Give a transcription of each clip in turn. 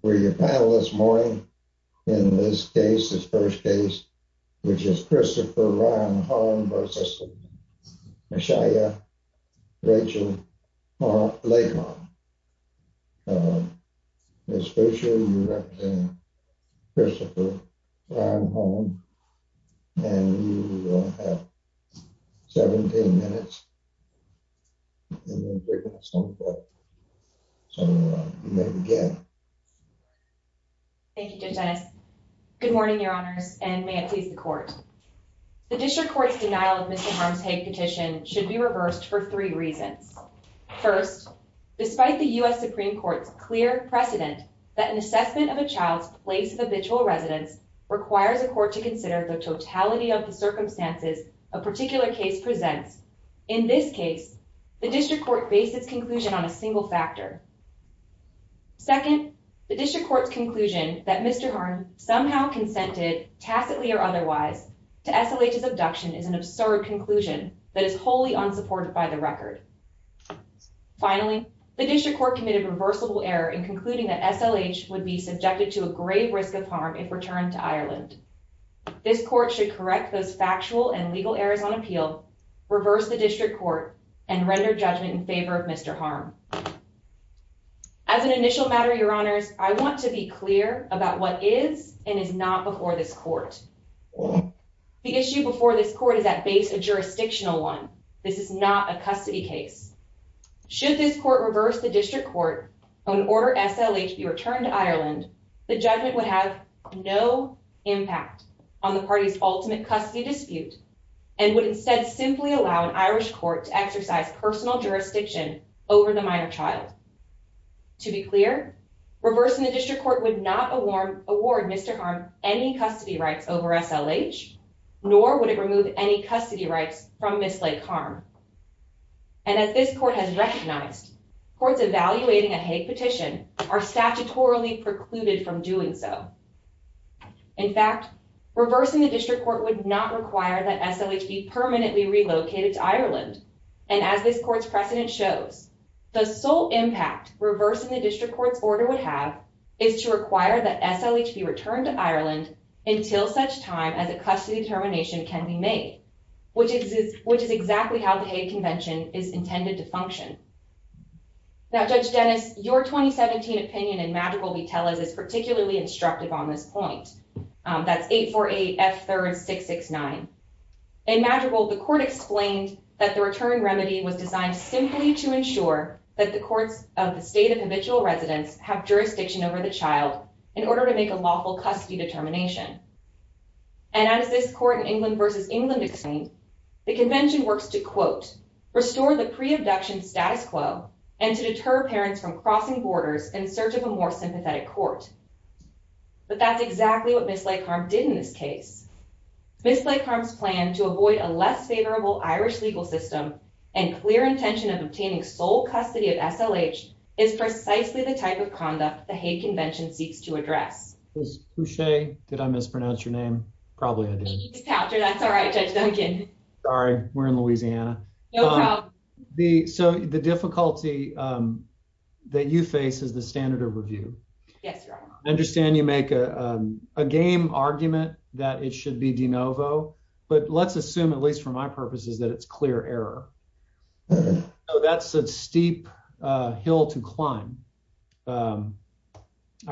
for your panel this morning. In this case, this first case, which is Christopher Ron Holm versus Meshia Rachel Lake-Harm. Ms. Fisher, you represent Christopher Ron Holm and you will have 17 minutes to present your case. Thank you, Judge Ennis. Good morning, your honors, and may it please the court. The district court's denial of Mr. Harm's Hague petition should be reversed for three reasons. First, despite the U.S. Supreme Court's clear precedent that an assessment of a child's place of habitual residence requires a court to consider the totality of the circumstances a particular case presents. In this case, the district court based its conclusion on a single factor. Second, the district court's conclusion that Mr. Harm somehow consented tacitly or otherwise to SLH's abduction is an absurd conclusion that is wholly unsupported by the record. Finally, the district court committed reversible error in concluding that SLH would be subjected to a grave risk of harm if returned to Ireland. This court should correct those factual and legal errors on appeal, reverse the district court, and render judgment in favor of Mr. Harm. As an initial matter, your honors, I want to be clear about what is and is not before this court. The issue before this court is at base a jurisdictional one. This is not a custody case. Should this court reverse the district court and order SLH to be returned to Ireland, the judgment would have no impact on the party's ultimate custody dispute and would instead simply allow an Irish court to exercise personal jurisdiction over the minor child. To be clear, reversing the district court would not award Mr. Harm any custody rights over SLH, nor would it remove any custody rights from Miss Lake Harm. And as this court has recognized, courts evaluating a Hague petition are statutorily precluded from doing so. In fact, reversing the district court would not require that SLH be permanently relocated to Ireland. And as this court's precedent shows, the sole impact reversing the district court's order would have is to require that SLH be returned to Ireland until such time as a custody determination can be made, which is exactly how the Hague is intended to function. Now, Judge Dennis, your 2017 opinion in Madrigal we tell us is particularly instructive on this point. That's 848F3669. In Madrigal, the court explained that the return remedy was designed simply to ensure that the courts of the state of habitual residence have jurisdiction over the child in order to make a lawful custody determination. And as this court in England versus England explained, the convention works to quote, restore the pre-abduction status quo and to deter parents from crossing borders in search of a more sympathetic court. But that's exactly what Miss Lake Harm did in this case. Miss Lake Harm's plan to avoid a less favorable Irish legal system and clear intention of obtaining sole custody of SLH is precisely the type of conduct the Hague Convention seeks to address. It's cliche. Did I mispronounce your name? Probably I did. Sorry, we're in Louisiana. So the difficulty that you face is the standard of review. I understand you make a game argument that it should be de novo, but let's assume, at least for my purposes, that it's clear error. So that's a steep hill to climb. I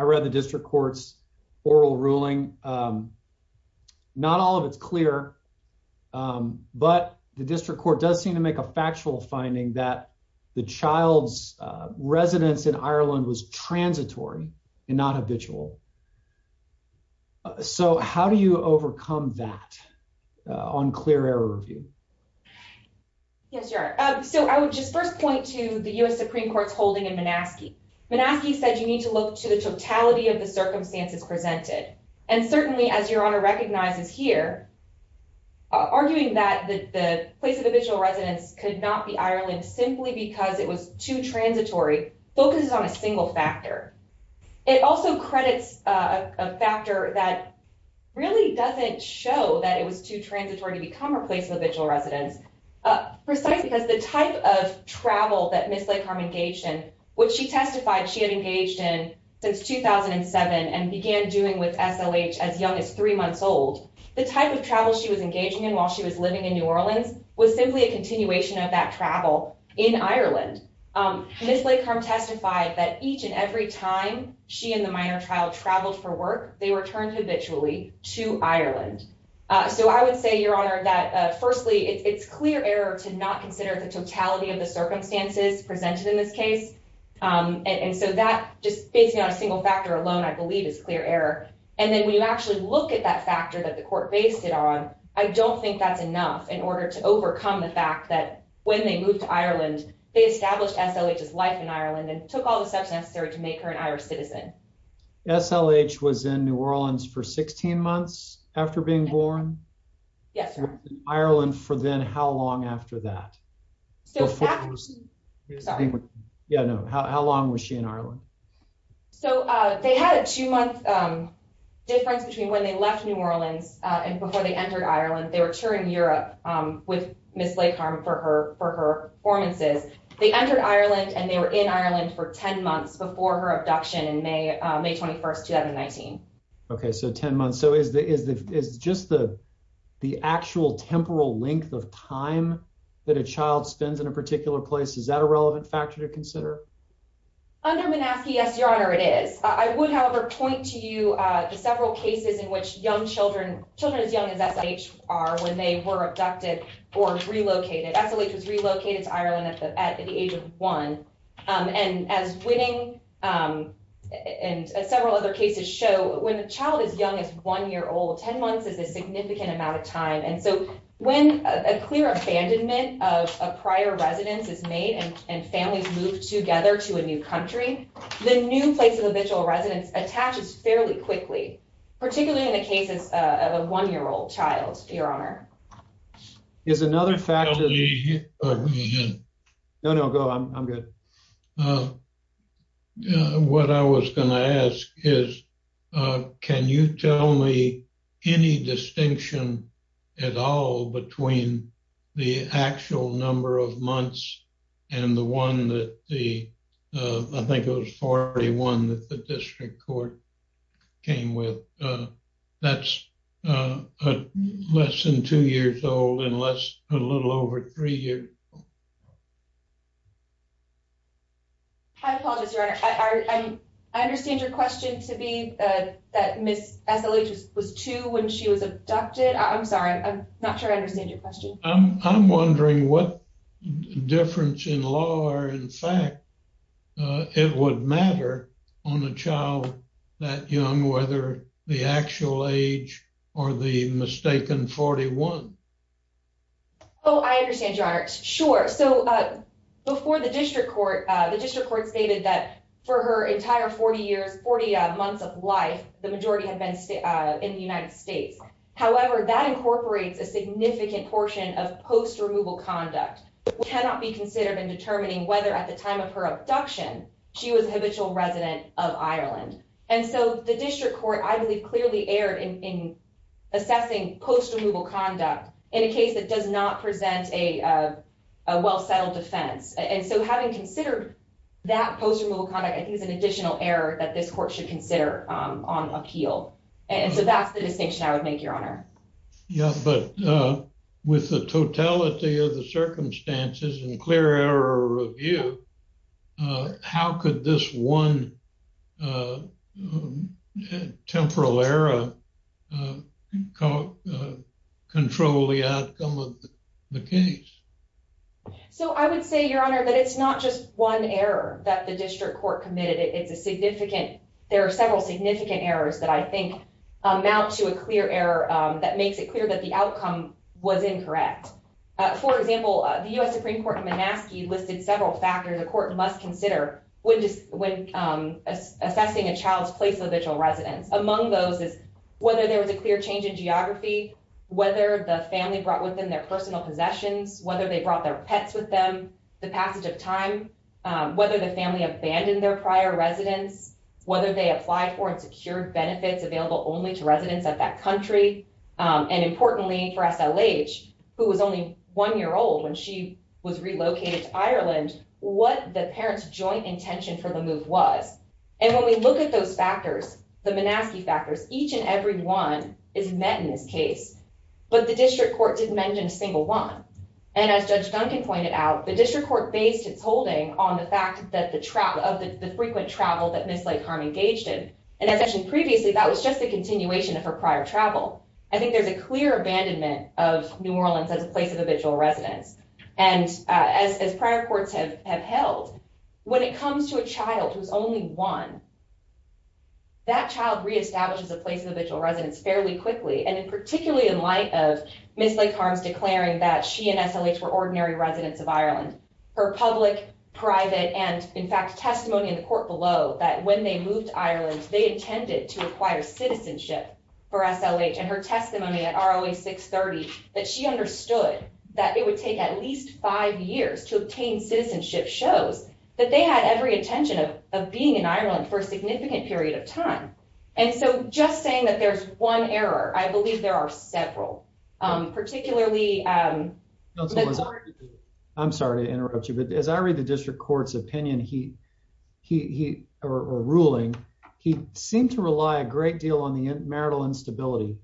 read the district court's oral ruling. Not all of it's clear, but the district court does seem to make a factual finding that the child's residence in Ireland was transitory and not habitual. So how do you overcome that on clear error review? Yes, you are. So I would just first point to the U.S. Supreme Court's holding in Manaske. Manaske said you need to look to the totality of the circumstances presented. And certainly, as Your Honor recognizes here, arguing that the place of habitual residence could not be Ireland simply because it was too transitory focuses on a single factor. It also credits a factor that really doesn't show that it was too transitory to become a place of habitual residence, precisely because the type of travel that Ms. Leigh-Karm engaged in, which she testified she had engaged in since 2007 and began doing with SLH as young as three months old, the type of travel she was engaging in while she was living in New Orleans was simply a continuation of that travel in Ireland. Ms. Leigh-Karm testified that each and every time she and the minor child traveled for work, they were turned habitually to Ireland. So I would say, Your Honor, that firstly, it's clear error to not consider the totality of the circumstances presented in this case. And so that just based on a single factor alone, I believe is clear error. And then when you actually look at that factor that the court based it on, I don't think that's enough in order to overcome the fact that when they moved to Ireland, they established SLH's life in Ireland and took all the steps necessary to make her an Irish being born. Yes, sir. Ireland for then how long after that? Yeah, no. How long was she in Ireland? So they had a two month difference between when they left New Orleans and before they entered Ireland, they were touring Europe with Ms. Leigh-Karm for her formances. They entered Ireland and they were in Ireland for 10 months before her abduction in May, May 21st, 2019. Okay, so 10 months. So is just the actual temporal length of time that a child spends in a particular place? Is that a relevant factor to consider? Under Minaski, yes, Your Honor, it is. I would, however, point to you the several cases in which young children, children as young as SLH are when they were abducted or relocated. SLH was several other cases show when a child is young as one year old, 10 months is a significant amount of time. And so when a clear abandonment of a prior residence is made and families move together to a new country, the new place of habitual residence attaches fairly quickly, particularly in the cases of a one year old child, Your Honor. Is another factor. No, no, go on. I'm good. What I was going to ask is, can you tell me any distinction at all between the actual number of months and the one that the, I think it was 41 that the district court came with. That's less than two years old and less, a little over three years. I apologize, Your Honor. I understand your question to be that Miss SLH was two when she was abducted. I'm sorry. I'm not sure I understand your question. I'm wondering what difference in law or in fact, it would matter on a child that young, whether the actual age or the mistaken 41. Oh, I understand, Your Honor. Sure. So before the district court, the district court stated that for her entire 40 years, 40 months of life, the majority had been in the United States. However, that incorporates a significant portion of post removal conduct cannot be considered in determining whether at the time of her abduction, she was habitual resident of Ireland. And so the district court, I believe clearly aired in assessing post removal conduct in a case that does not present a well settled defense. And so having considered that post removal conduct, I think is an additional error that this court should consider on appeal. And so that's the Yeah, but with the totality of the circumstances and clear error review, how could this one temporal error control the outcome of the case? So I would say, Your Honor, that it's not just one error that the district court committed. It's a that makes it clear that the outcome was incorrect. For example, the US Supreme Court in Manaski listed several factors the court must consider when assessing a child's place of original residence. Among those is whether there was a clear change in geography, whether the family brought with them their personal possessions, whether they brought their pets with them, the passage of time, whether the family abandoned their prior residence, whether they applied for and secured benefits available only to and importantly for SLH, who was only one year old when she was relocated to Ireland, what the parents joint intention for the move was. And when we look at those factors, the Manaski factors, each and every one is met in this case. But the district court didn't mention a single one. And as Judge Duncan pointed out, the district court based its holding on the fact that the travel of the frequent travel that Ms. Lake-Harm engaged in. And as mentioned previously, that was just a continuation of her prior travel. I think there's a clear abandonment of New Orleans as a place of original residence. And as prior courts have held, when it comes to a child who's only one, that child reestablishes a place of original residence fairly quickly. And particularly in light of Ms. Lake-Harm's declaring that she and SLH were ordinary residents of Ireland, her public, private, and in fact, testimony in the court below that when they moved to Ireland, they intended to acquire citizenship for SLH and her testimony at ROA 630, that she understood that it would take at least five years to obtain citizenship shows that they had every intention of being in Ireland for a significant period of time. And so just saying that there's one error, I believe there are several, particularly- ruling. He seemed to rely a great deal on the marital instability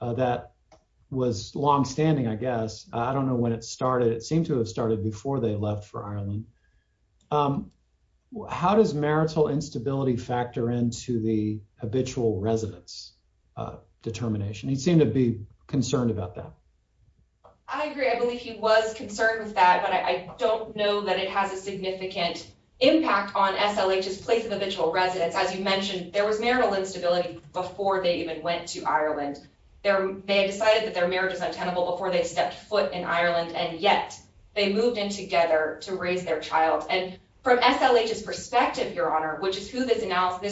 that was longstanding, I guess. I don't know when it started. It seemed to have started before they left for Ireland. How does marital instability factor into the habitual residence determination? He seemed to be concerned about that. I agree. I believe he was concerned with that, but I don't know that it has a significant impact on SLH's place of habitual residence. As you mentioned, there was marital instability before they even went to Ireland. They decided that their marriage was untenable before they stepped foot in Ireland, and yet they moved in together to raise their child. And from SLH's perspective, Your Honor, which is who this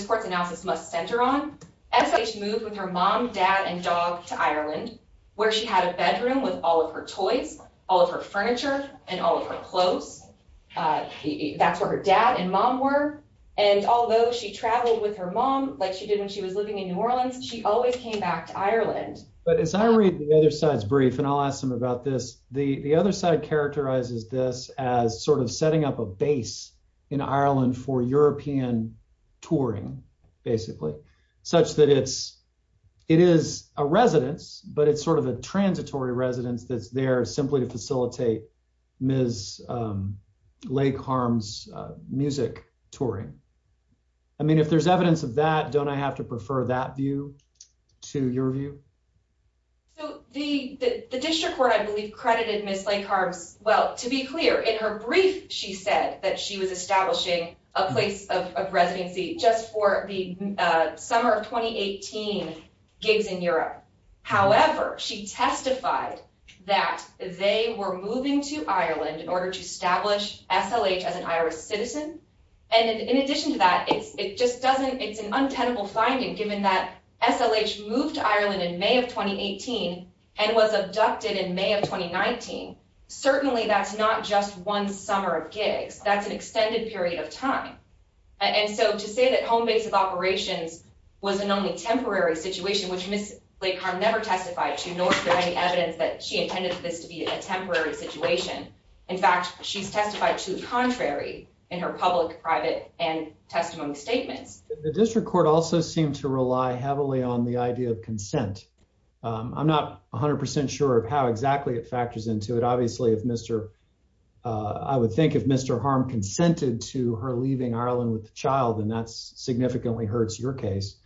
court's analysis must center on, SLH moved with her mom, dad, and dog to Ireland, where she had a bedroom with all of her toys, all of her furniture, and all of her clothes. That's where her dad and mom were. And although she traveled with her mom like she did when she was living in New Orleans, she always came back to Ireland. But as I read the other side's brief, and I'll ask them about this, the other side characterizes this as sort of setting up a base in Ireland for European touring, basically, such that it is a residence, but it's sort of a transitory residence that's there simply to facilitate Ms. Lake-Harm's music touring. I mean, if there's evidence of that, don't I have to prefer that view to your view? So the district court, I believe, credited Ms. Lake-Harm's... Well, to be clear, in her brief, she said that she was establishing a place of residency just for the summer of 2018 gigs in Europe. However, she testified that they were moving to Ireland in order to establish SLH as an Irish citizen. And in addition to that, it just doesn't... It's an untenable finding, given that SLH moved to Ireland in May of 2018 and was abducted in May of 2019. Certainly, that's not just one summer of gigs. That's an extended period of time. And so to say that home base of operations was an only temporary situation, which Ms. Lake-Harm never testified to, nor is there any evidence that she intended this to be a temporary situation. In fact, she's testified to the contrary in her public, private, and testimony statements. The district court also seemed to rely heavily on the idea of consent. I'm not 100% sure of how exactly it factors into it. Obviously, if Mr. I would think if Mr. Harm consented to her leaving Ireland with the child, then that's significantly hurts your case.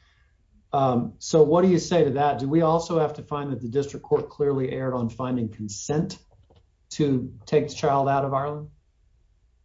So what do you say to that? Do we also have to find that the district court clearly erred on finding consent to take the child out of Ireland?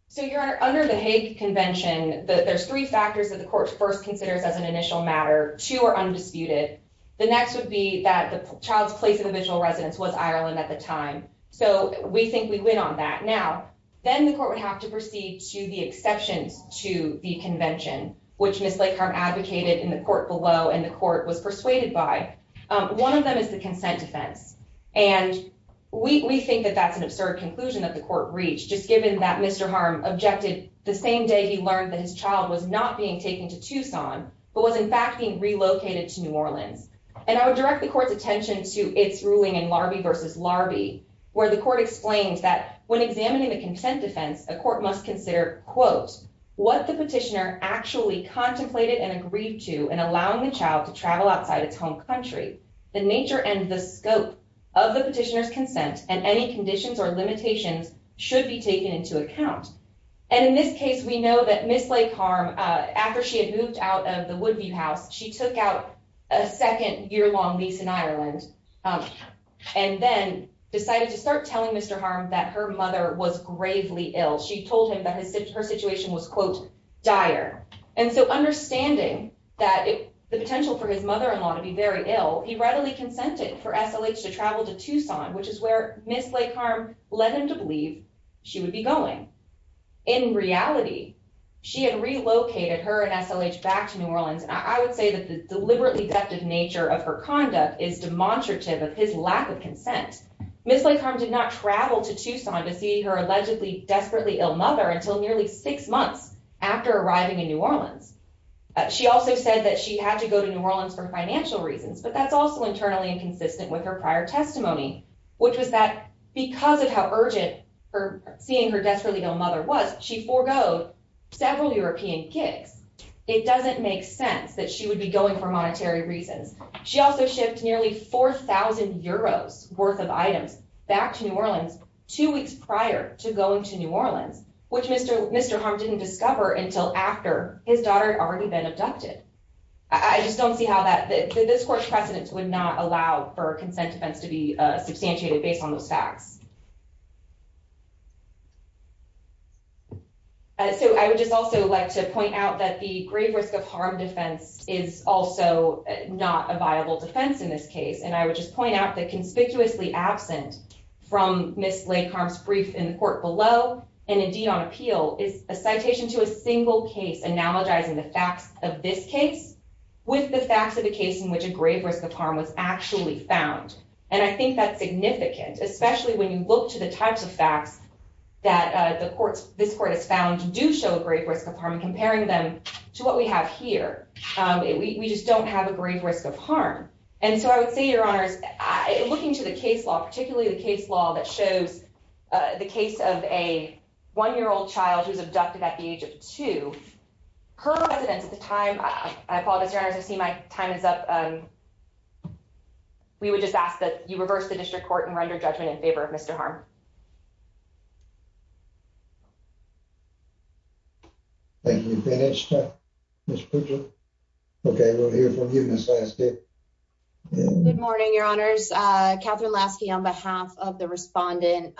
So, Your Honor, under the Hague Convention, there's three factors that the court first considers as an initial matter. Two are undisputed. The next would be that the child's place of original residence was Ireland at the time. So we think we win on that. Now, then the court would have to proceed to the exceptions to the convention, which Ms. Lake-Harm advocated in the court below and the court was persuaded by. One of them is the consent defense. And we think that that's an absurd conclusion that the court reached, just given that Mr. Harm objected the same day he learned that his child was not being taken to Tucson, but was in fact being relocated to New Orleans. And I would direct the court's ruling in Larby v. Larby, where the court explained that when examining the consent defense, a court must consider, quote, what the petitioner actually contemplated and agreed to in allowing the child to travel outside its home country. The nature and the scope of the petitioner's consent and any conditions or limitations should be taken into account. And in this case, we know that Ms. Lake-Harm, after she had moved out of the Woodview house, she took out a second year-long lease in New Orleans and then decided to start telling Mr. Harm that her mother was gravely ill. She told him that her situation was, quote, dire. And so understanding that the potential for his mother-in-law to be very ill, he readily consented for SLH to travel to Tucson, which is where Ms. Lake-Harm led him to believe she would be going. In reality, she had relocated her and SLH back to New Orleans. I would say that the deliberately deft nature of her conduct is demonstrative of his lack of consent. Ms. Lake-Harm did not travel to Tucson to see her allegedly desperately ill mother until nearly six months after arriving in New Orleans. She also said that she had to go to New Orleans for financial reasons, but that's also internally inconsistent with her prior testimony, which was that because of how urgent her seeing her desperately ill mother was, she forgoed several European gigs. It doesn't make sense that she would be going for monetary reasons. She also shipped nearly 4,000 euros worth of items back to New Orleans two weeks prior to going to New Orleans, which Mr. Mr. Harm didn't discover until after his daughter had already been abducted. I just don't see how that this court's precedence would not allow for consent defense to be substantiated based on those facts. So I would just also like to point out that the grave risk of harm defense is also not a viable defense in this case, and I would just point out that conspicuously absent from Ms. Lake-Harm's brief in the court below and indeed on appeal is a citation to a single case analogizing the facts of this case with the facts of a case in which a grave risk of harm was actually found. And I think that's significant, especially when you look to the types of facts that this court has found do show a grave risk of harm. Comparing them to what we have here, we just don't have a grave risk of harm. And so I would say, Your Honors, looking to the case law, particularly the case law that shows the case of a one-year-old child who's abducted at the age of We would just ask that you reverse the district court and render judgment in favor of Mr. Harm. Thank you. Finished? Okay, we'll hear from you, Ms. Lasky. Good morning, Your Honors. Katherine Lasky on behalf of the respondent,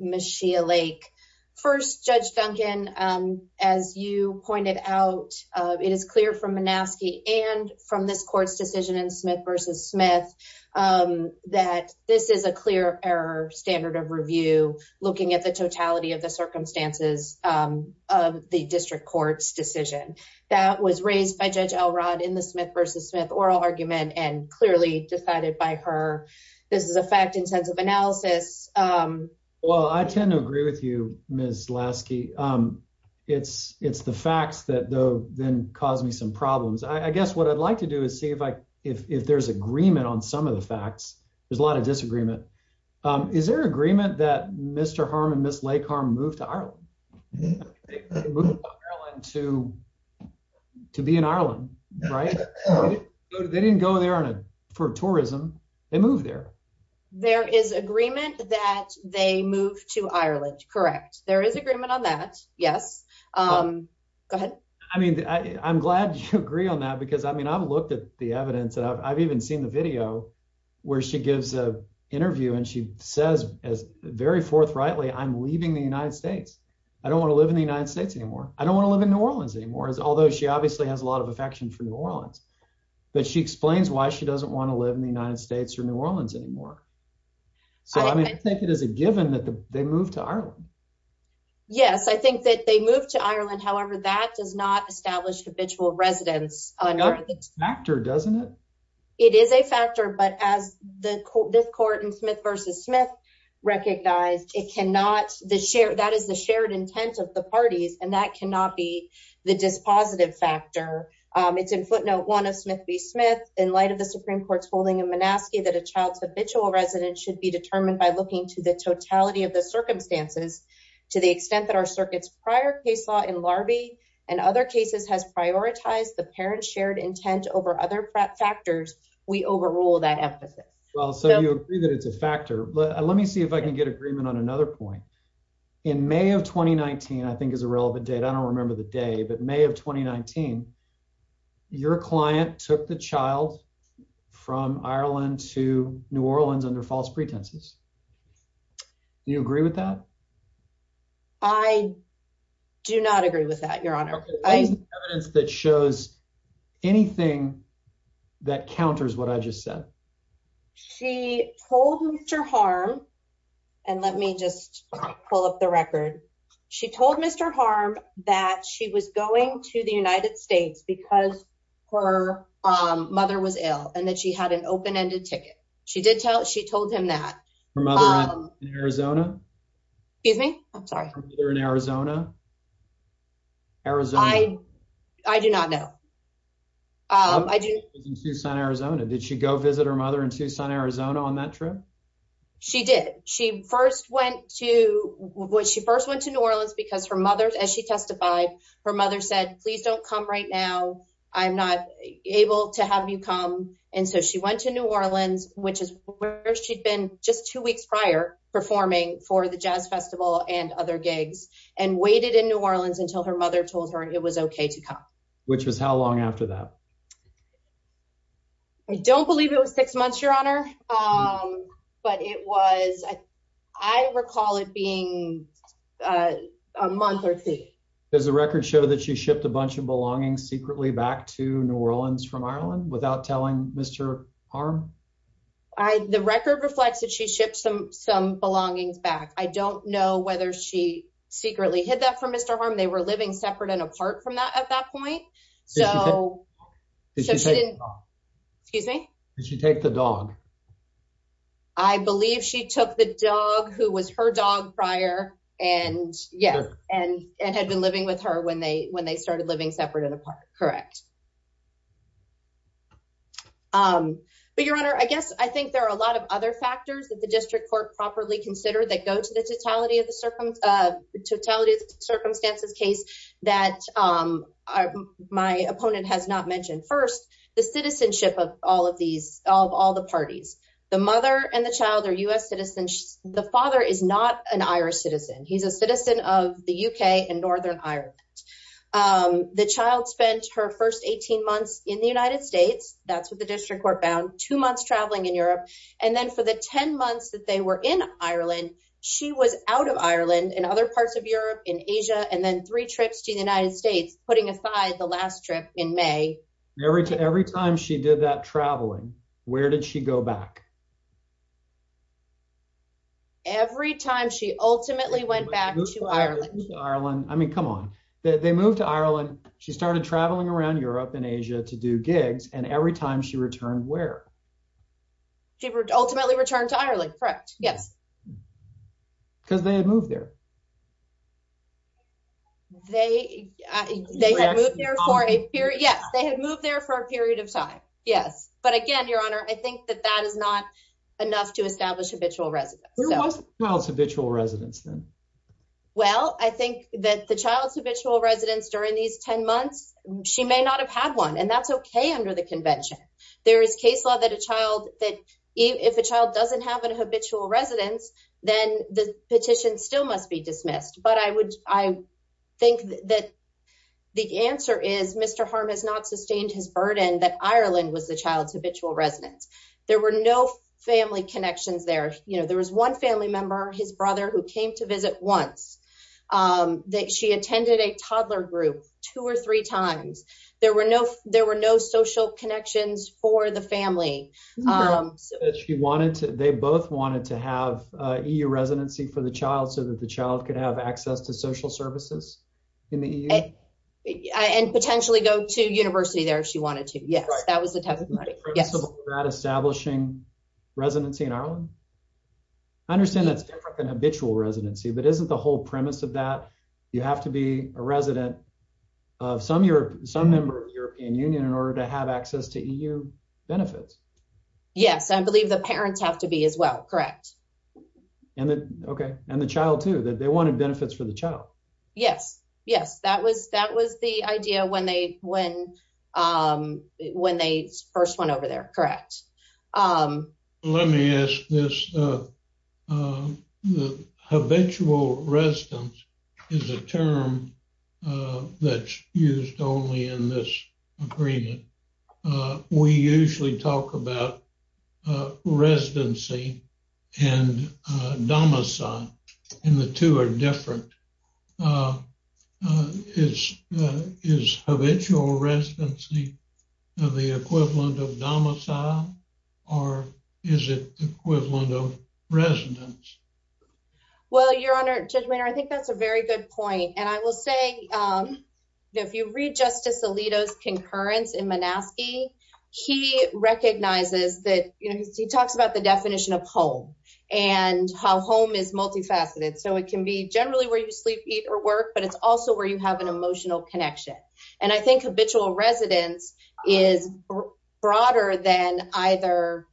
Ms. Shea Lake. First, Judge Duncan, as you pointed out, it is clear from Minaski and from this court's decision in Smith v. Smith that this is a clear-of-error standard of review looking at the totality of the circumstances of the district court's decision. That was raised by Judge Elrod in the Smith v. Smith oral argument and clearly decided by her. This is a fact-intensive analysis. Well, I tend to agree with you, Ms. Lasky. It's the facts that then caused me some problems. I if there's agreement on some of the facts, there's a lot of disagreement. Is there agreement that Mr. Harm and Ms. Lake Harm moved to Ireland? They moved to Ireland to be in Ireland, right? They didn't go there for tourism. They moved there. There is agreement that they moved to Ireland, correct. There is agreement on that, yes. Go ahead. I'm glad you agree on that because I've looked at the evidence and I've even seen the video where she gives an interview and she says very forthrightly, I'm leaving the United States. I don't want to live in the United States anymore. I don't want to live in New Orleans anymore, although she obviously has a lot of affection for New Orleans, but she explains why she doesn't want to live in the United States or New Orleans anymore. I think it is a given that they moved to New Orleans. It is a factor, but as this court in Smith v. Smith recognized, that is the shared intent of the parties, and that cannot be the dispositive factor. It's in footnote one of Smith v. Smith, in light of the Supreme Court's holding in Monaskey, that a child's habitual residence should be determined by looking to the totality of the case. If the other case has prioritized the parent's shared intent over other factors, we overrule that emphasis. Well, so you agree that it's a factor. Let me see if I can get agreement on another point. In May of 2019, I think is a relevant date. I don't remember the day, but May of 2019, your client took the child from Ireland to New Orleans under false pretenses. Do you agree with that? I do not agree with that, Your Honor. Okay, what is the evidence that shows anything that counters what I just said? She told Mr. Harm, and let me just pull up the record. She told Mr. Harm that she was going to the United States because her mother was ill, and that she had an open-ended ticket. She told him that. Her mother in Arizona? Excuse me? I'm sorry. Her mother in Arizona? Arizona. I do not know. Her mother was in Tucson, Arizona. Did she go visit her mother in Tucson, Arizona on that trip? She did. She first went to New Orleans because her mother, as she testified, her mother said, please don't come right now. I'm not able to have you come, and so she went to New Orleans, which is where she'd been just two weeks prior performing for the jazz festival and other gigs, and waited in New Orleans until her mother told her it was okay to come. Which was how long after that? I don't believe it was six months, Your Honor, but it was, I recall it being a month or two. Does the record show that she shipped a bunch of belongings secretly back to New Orleans from Ireland without telling Mr. Harm? The record reflects that she shipped some belongings back. I don't know whether she secretly hid that from Mr. Harm. They were living separate and apart from that at that point, so she didn't. Did she take the dog? Excuse me? Did she take the dog? I believe she took the dog, who was her dog prior, and had been living with her when they were together. I think there are a lot of other factors that the district court properly considered that go to the totality of the circumstances case that my opponent has not mentioned. First, the citizenship of all the parties. The mother and the child are U.S. citizens. The father is not an Irish citizen. He's a citizen of the U.K. and Northern Ireland. The child spent her first 18 months in the United States. That's what the district court found, two months traveling in Europe. Then for the 10 months that they were in Ireland, she was out of Ireland and other parts of Europe, in Asia, and then three trips to the United States, putting aside the last trip in May. Every time she did that traveling, where did she go back? Every time she ultimately went back to Ireland. I mean, come on. They moved to Ireland. She ultimately returned to Ireland. Correct. Yes. Because they had moved there. They had moved there for a period of time. Yes. But again, Your Honor, I think that that is not enough to establish habitual residence. Who was the child's habitual residence then? Well, I think that the child's habitual residence during these 10 months, she may not have had one, and that's okay under the convention. There is case law that if a child doesn't have a habitual residence, then the petition still must be dismissed. But I think the answer is Mr. Harm has not sustained his burden that Ireland was the child's habitual residence. There were no family connections there. There was one family member, his brother, who came to visit once. She attended a toddler group two or three times. There were no social connections for the family. They both wanted to have EU residency for the child so that the child could have access to social services in the EU? And potentially go to university there if she wanted to. Yes. That was the testimony. Establishing residency in Ireland? I don't know if that's the whole premise of that. You have to be a resident of some member of the European Union in order to have access to EU benefits. Yes. I believe the parents have to be as well. Correct. And the child too. They wanted benefits for the child. Yes. Yes. That was the idea when they first went over there. Correct. Let me ask this. Habitual residence is a term that's used only in this agreement. We usually talk about residency and domicile and the two are different. Is habitual residency the equivalent of domicile or is it equivalent of residence? Well, Your Honor, Judge Maynard, I think that's a very good point. And I will say if you read Justice Alito's concurrence in Monaskey, he recognizes that he talks about definition of home and how home is multifaceted. So it can be generally where you sleep, eat or work, but it's also where you have an emotional connection. And I think habitual residence is broader than either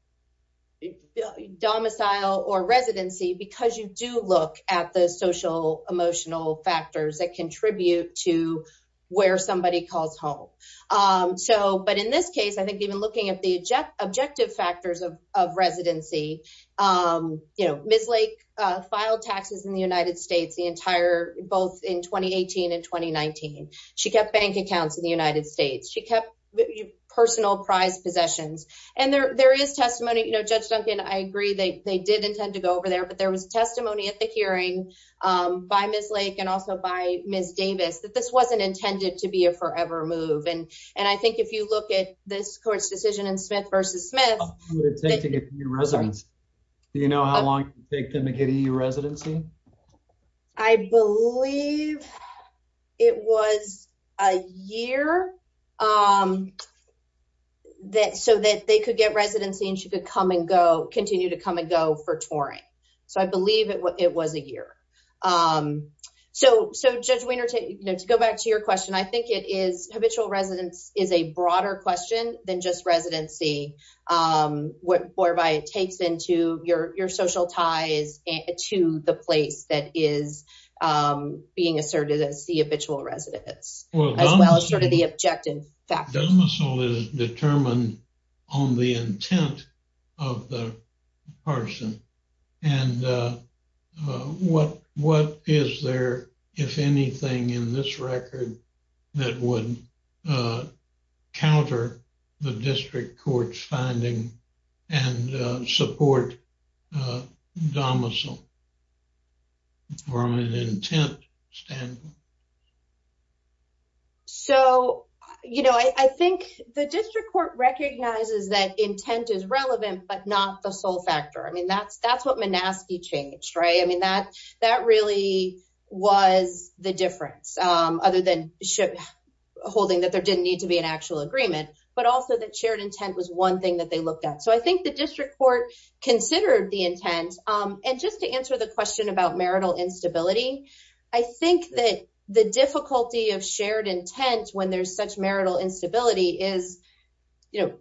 domicile or residency because you do look at the social, emotional factors that contribute to where somebody calls home. But in this case, I think even looking at the objective factors of residency, Ms. Lake filed taxes in the United States the entire both in 2018 and 2019. She kept bank accounts in the United States. She kept personal prized possessions. And there is testimony. Judge Duncan, I agree they did intend to go over there, but there was testimony at the hearing by Ms. Lake and also by Ms. Davis that this wasn't intended to be a forever move. And I think if you look at this court's decision in Smith v. Smith. How long would it take to get a new residence? Do you know how long it would take them to get a new residency? I believe it was a year so that they could get residency and she could come and go, continue to come and go for touring. So I believe it was a year. So, Judge Wiener, to go back to your question, I think it is habitual residence is a broader question than just residency. Whereby it takes into your social ties to the place that is being asserted as the habitual residence as well as sort of the objective factors. Domicile is determined on the intent of the person. And what is there, if anything in this record, that would counter the district court's finding and support domicile from an intent standpoint? So, you know, I think the district court recognizes that intent is relevant, but not the sole factor. I mean, that's what Menaski changed, right? I mean, that really was the difference other than holding that there didn't need to be an actual agreement, but also that shared intent was one thing that they looked at. So I think the district court considered the intent. And just to answer the question about marital instability, I think that the difficulty of shared intent when there's such marital instability is, you know,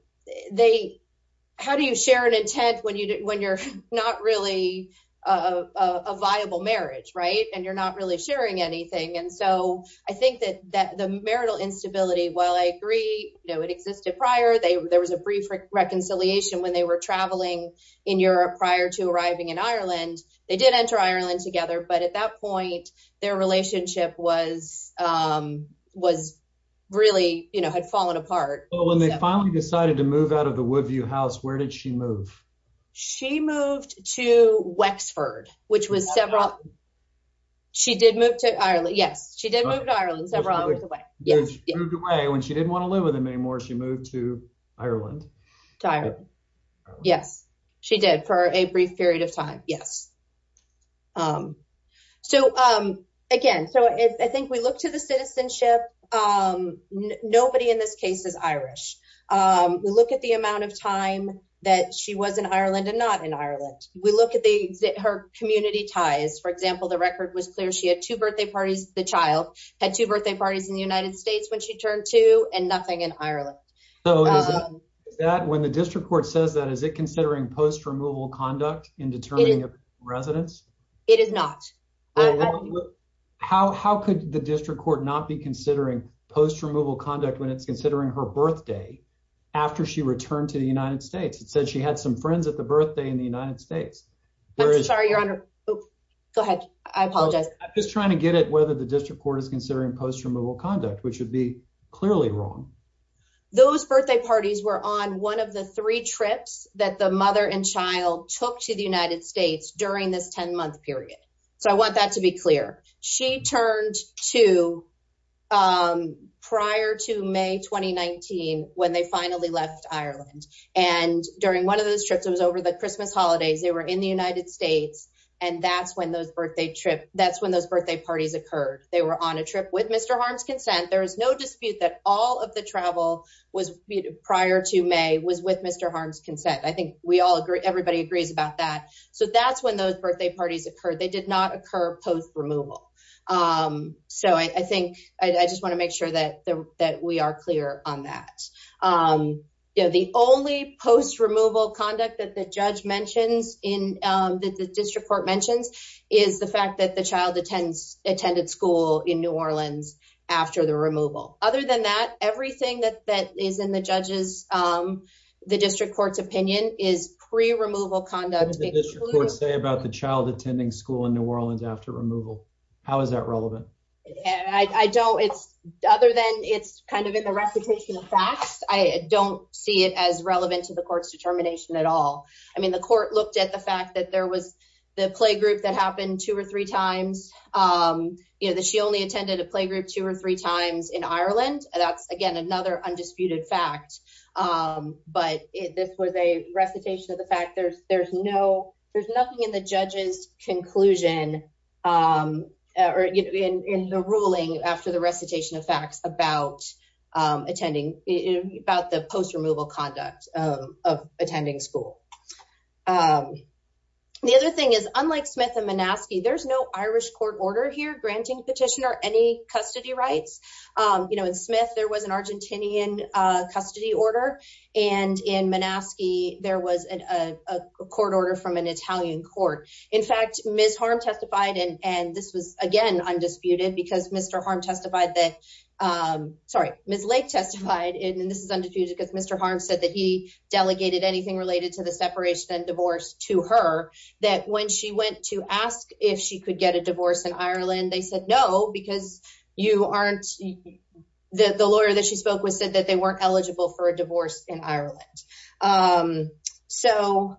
how do you share an intent when you're not really a viable marriage, right? And you're not really sharing anything. And so I think that the marital instability, while I agree, it existed prior, there was a brief reconciliation when they were traveling in Europe prior to arriving in Ireland. They did enter Ireland together, but at that point, their relationship was really, you know, had fallen apart. Well, when they finally decided to move out of the Woodview house, where did she move? She moved to Wexford, which was several, she did move to Ireland. Yes, she did move to Ireland when she didn't want to live with him anymore. She moved to Ireland. Yes, she did for a brief period of time. Yes. So again, so I think we look to the citizenship. Nobody in this case is Irish. We look at the amount of time that she was in Ireland and not in Ireland. We look at her community ties. For example, the record was clear. She had two birthday parties in the United States when she turned two and nothing in Ireland. When the district court says that, is it considering post removal conduct in determining a residence? It is not. How could the district court not be considering post removal conduct when it's considering her birthday after she returned to the United States? It says she had some friends at the birthday in the United States. I'm sorry, your honor. Go ahead. I apologize. I'm just trying to get at whether the district court is considering post removal conduct, which would be clearly wrong. Those birthday parties were on one of the three trips that the mother and child took to the United States during this 10 month period. So I want that to be clear. She turned two prior to May 2019, when they finally left Ireland. And during one of those trips, it was over the Christmas holidays, they were in the United States. And that's when those birthday parties occurred. They were on a trip with Mr. Harm's consent. There is no dispute that all of the travel prior to May was with Mr. Harm's consent. I think everybody agrees about that. So that's when those birthday parties occurred. They did not occur post removal. So I think I just want to make sure that we are clear on that. The only post removal conduct that the judge mentions in that the district court mentions is the fact that the child attends attended school in New Orleans after the removal. Other than that, everything that that is in the judges, the district court's opinion is pre removal conduct. Say about the child attending school in New Orleans after removal. How is that relevant? I don't it's other than it's kind of in recitation of facts. I don't see it as relevant to the court's determination at all. I mean, the court looked at the fact that there was the playgroup that happened two or three times. You know that she only attended a playgroup two or three times in Ireland. That's again, another undisputed fact. But this was a recitation of the fact there's there's no, there's nothing in the judges conclusion or in the ruling after the recitation of facts about attending about the post removal conduct of attending school. The other thing is, unlike Smith and Minaski, there's no Irish court order here granting petitioner any custody rights. You know, in Smith, there was an Argentinian custody order. And in Minaski, there was a court order from an Italian court. In fact, Ms. Harm testified and this was again, undisputed because Mr. Harm testified that sorry, Ms. Lake testified in this is undisputed because Mr. Harm said that he delegated anything related to the separation and divorce to her that when she went to ask if she could get a divorce in Ireland, they said no, because you aren't the lawyer that she spoke with said that they weren't eligible for a divorce in Ireland. Um, so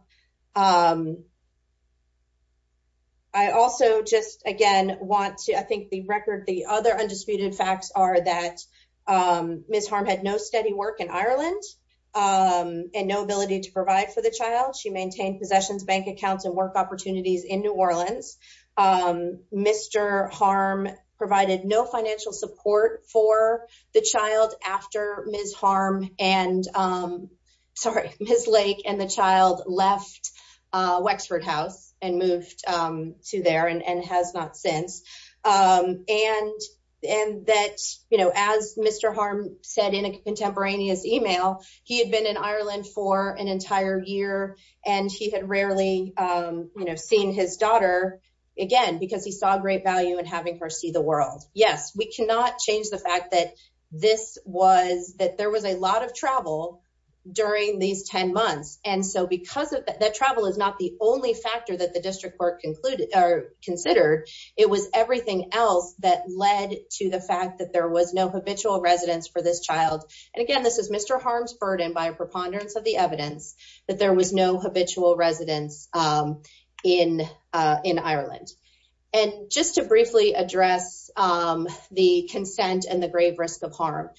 I also just again want to I think the record the other undisputed facts are that Ms. Harm had no steady work in Ireland and no ability to provide for the child. She maintained possessions, bank accounts and work opportunities in New Orleans. Mr. Harm provided no financial support for the child after Ms. Harm and sorry, Ms. Lake and the child left Wexford House and moved to there and has not since. And, and that, you know, as Mr. Harm said in a contemporaneous email, he had been in Ireland for an entire year. And he had rarely, you know, seen his daughter, again, because he saw great value in having her see the world. Yes, we cannot change the fact that this was that there was a lot of travel during these 10 months. And so because of that travel is not the only factor that the district court concluded or considered. It was everything else that led to the fact that there was no habitual residence for this child. And again, this is Mr. harm's burden by preponderance of the evidence that there was no habitual residence in in Ireland. And just to briefly address the consent and the grave risk of harm.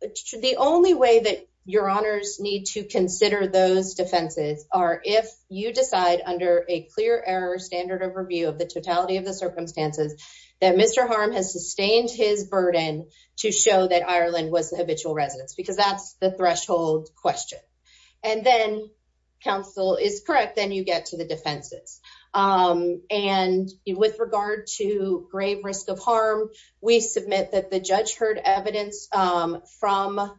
The only way that your honors need to consider those defenses are if you decide under a clear error standard overview of the totality of the circumstances that Mr. Harm has sustained his burden to show that Ireland was habitual residents because that's the threshold question. And then counsel is correct, then you get to the defenses. And with regard to grave risk of harm, we submit that the judge heard evidence from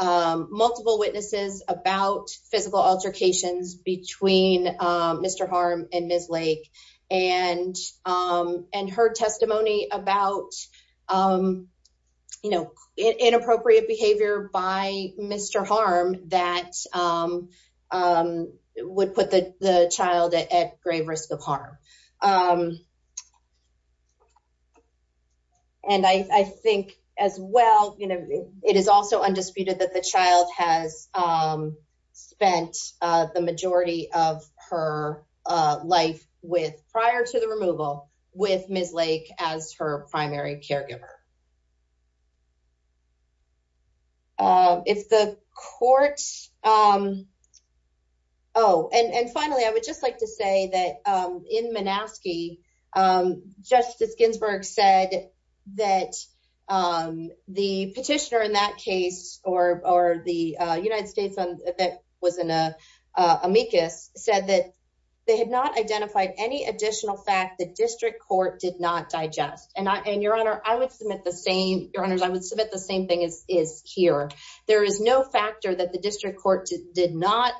multiple witnesses about physical altercations between Mr. Harm and Ms. Lake, and, and her testimony about, you know, inappropriate behavior by Mr. Harm that would put the child at grave risk of harm. And I think, as well, you know, it is also prior to the removal with Ms. Lake as her primary caregiver. If the court, oh, and finally, I would just like to say that in Manaski, Justice Ginsburg said that the petitioner in that case, or the United States that was in a amicus said that they had not identified any additional fact that district court did not digest. And your honor, I would submit the same, your honors, I would submit the same thing as is here. There is no factor that the district court did not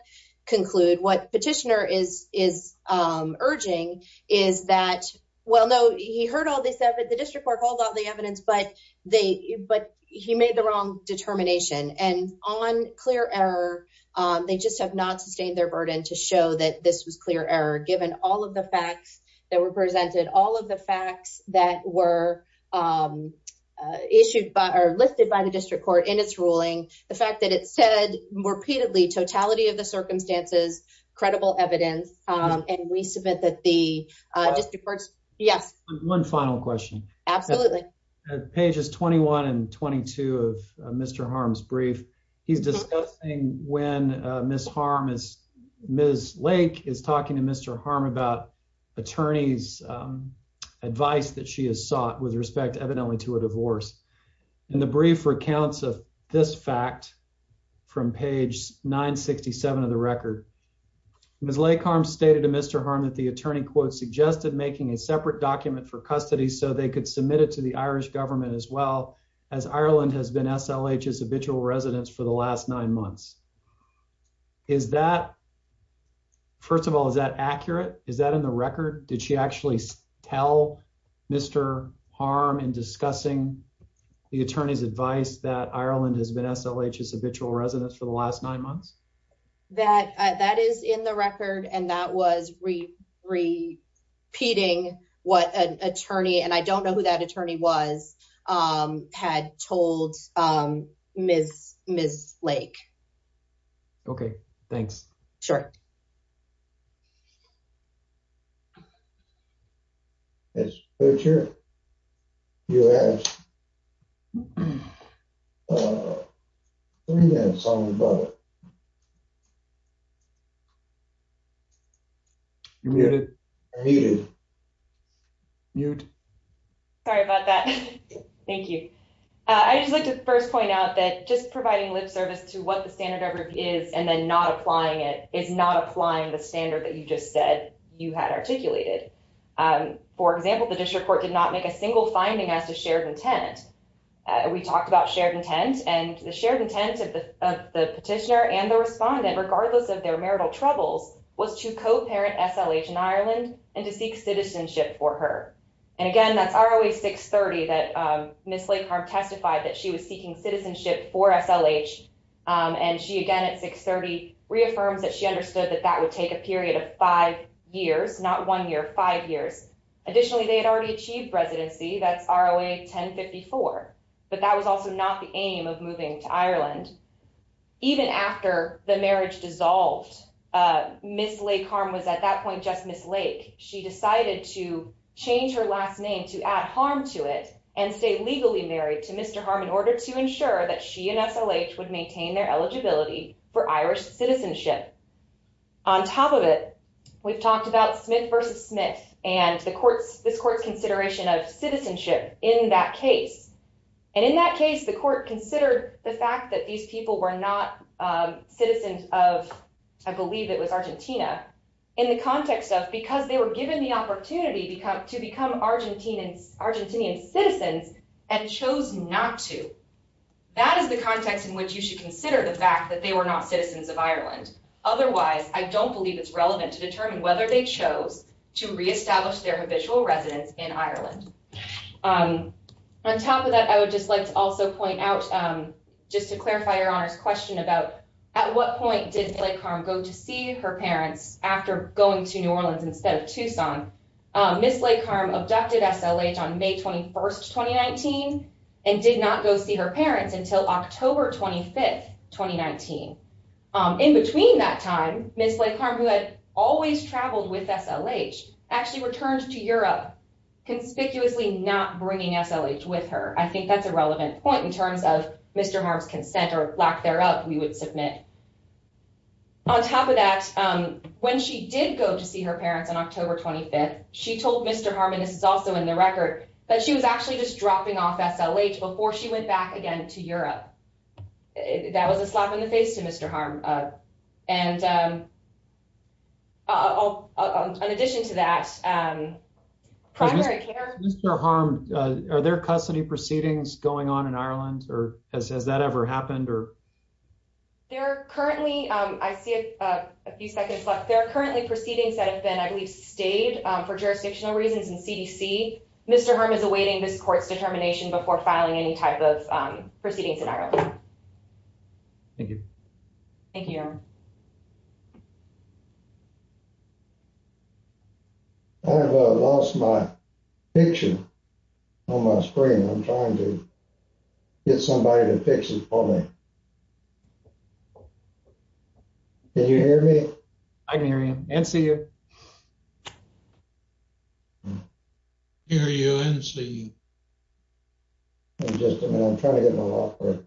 conclude. What petitioner is urging is that, well, no, he heard all this evidence, the district court holds all the evidence, but he made the wrong determination. And on clear error, they just have not sustained their burden to show that this was clear error, given all of the facts that were presented, all of the facts that were issued by, or lifted by the district court in its ruling, the fact that it said repeatedly, totality of the circumstances, credible evidence, and we submit that the district courts, yes. One final question. Absolutely. At pages 21 and 22 of Mr. Harm's brief, he's discussing when Miss Harm is Miss Lake is talking to Mr. Harm about attorneys advice that she has sought with respect evidently to a divorce in the brief recounts of this fact from page 9 67 of the record. Miss Lake harm stated to Mr. Harm that the attorney quote suggested making a separate document for custody so they could submit it to the Irish government as well as Ireland has been SLH is habitual residents for the last nine months. Is that first of all, is that accurate? Is that in the record? Did she actually tell Mr Harm and discussing the attorney's advice that Ireland has been SLH is habitual residents for the last nine months that that is in the record. And that was re repeating what an attorney and I don't know who that attorney was, um, had told, um, Ms. Ms. Lake. Okay. Thanks. Sure. Yes. Sure. You have, uh, thank you. Uh, I just like to first point out that just providing lip service to what the standard of review is and then not applying it is not applying the standard that you just said you had articulated. Um, for example, the district court did not make a single finding as to shared intent. Uh, we talked about shared intent and the shared intent of the, of the petitioner and the respondent, regardless of their marital troubles was to co-parent SLH in Ireland and to seek citizenship for her. And again, that's always six 30 that, um, Ms. Lake harm testified that she was seeking citizenship for SLH. Um, and she, again, at six 30 reaffirms that she understood that that would take a period of five years, not one year, five years. Additionally, they had already achieved residency. That's our way 10 54, but that was also not the aim of moving to Ireland. Even after the marriage dissolved, uh, Ms. Lake harm was at that point, just Ms. Lake. She decided to change her last name to add harm to it and stay legally married to Mr. Harm in order to ensure that she and SLH would maintain their eligibility for Irish citizenship. On top of it, we've talked about Smith versus Smith and the courts, this court's consideration of citizenship in that case. And in that case, the court considered the fact that these people were not, um, citizens of, I believe it was Argentina in the context of, because they were given the opportunity to come to become Argentinians, Argentinian citizens, and chose not to. That is the context in which you should consider the fact that they were not citizens of Ireland. Otherwise, I don't believe it's relevant to determine whether they chose to reestablish their habitual residence in Ireland. Um, on top of that, I would just like to also point out, um, just to clarify your honors question about at what point did like harm go to see her parents after going to new Orleans instead of Tucson, um, Ms. Lake harm abducted SLH on May 21st, 2019, and did not go see her parents until October 25th, 2019. Um, in between that time, Ms. Lake harm who had always traveled with SLH actually returned to Europe, conspicuously not bringing SLH with her. I think that's a relevant point in terms of Mr. Harms consent or lack thereof, we would submit on top of that. Um, when she did go to see her parents on October 25th, she told Mr Harmon. This is also in the record that she was actually just dropping off SLH before she went back again to Europe. That was a slap in the face to Mr Harm. Uh, and, um, uh, on addition to that, um, primary care Mr Harm. Are there custody proceedings going on in Ireland? Or has that ever happened? Or they're currently I see a few seconds left. They're currently proceedings that have been, I believe, stayed for jurisdictional reasons in CDC. Mr Harm is awaiting this court's determination before filing any type of proceedings in Ireland. Thank you. Thank you. I've lost my picture on my screen. I'm trying to get somebody to fix it for me. Can you hear me? I can hear you and see you. Hear you and see you. I'm just, I mean, I'm trying to get my offer.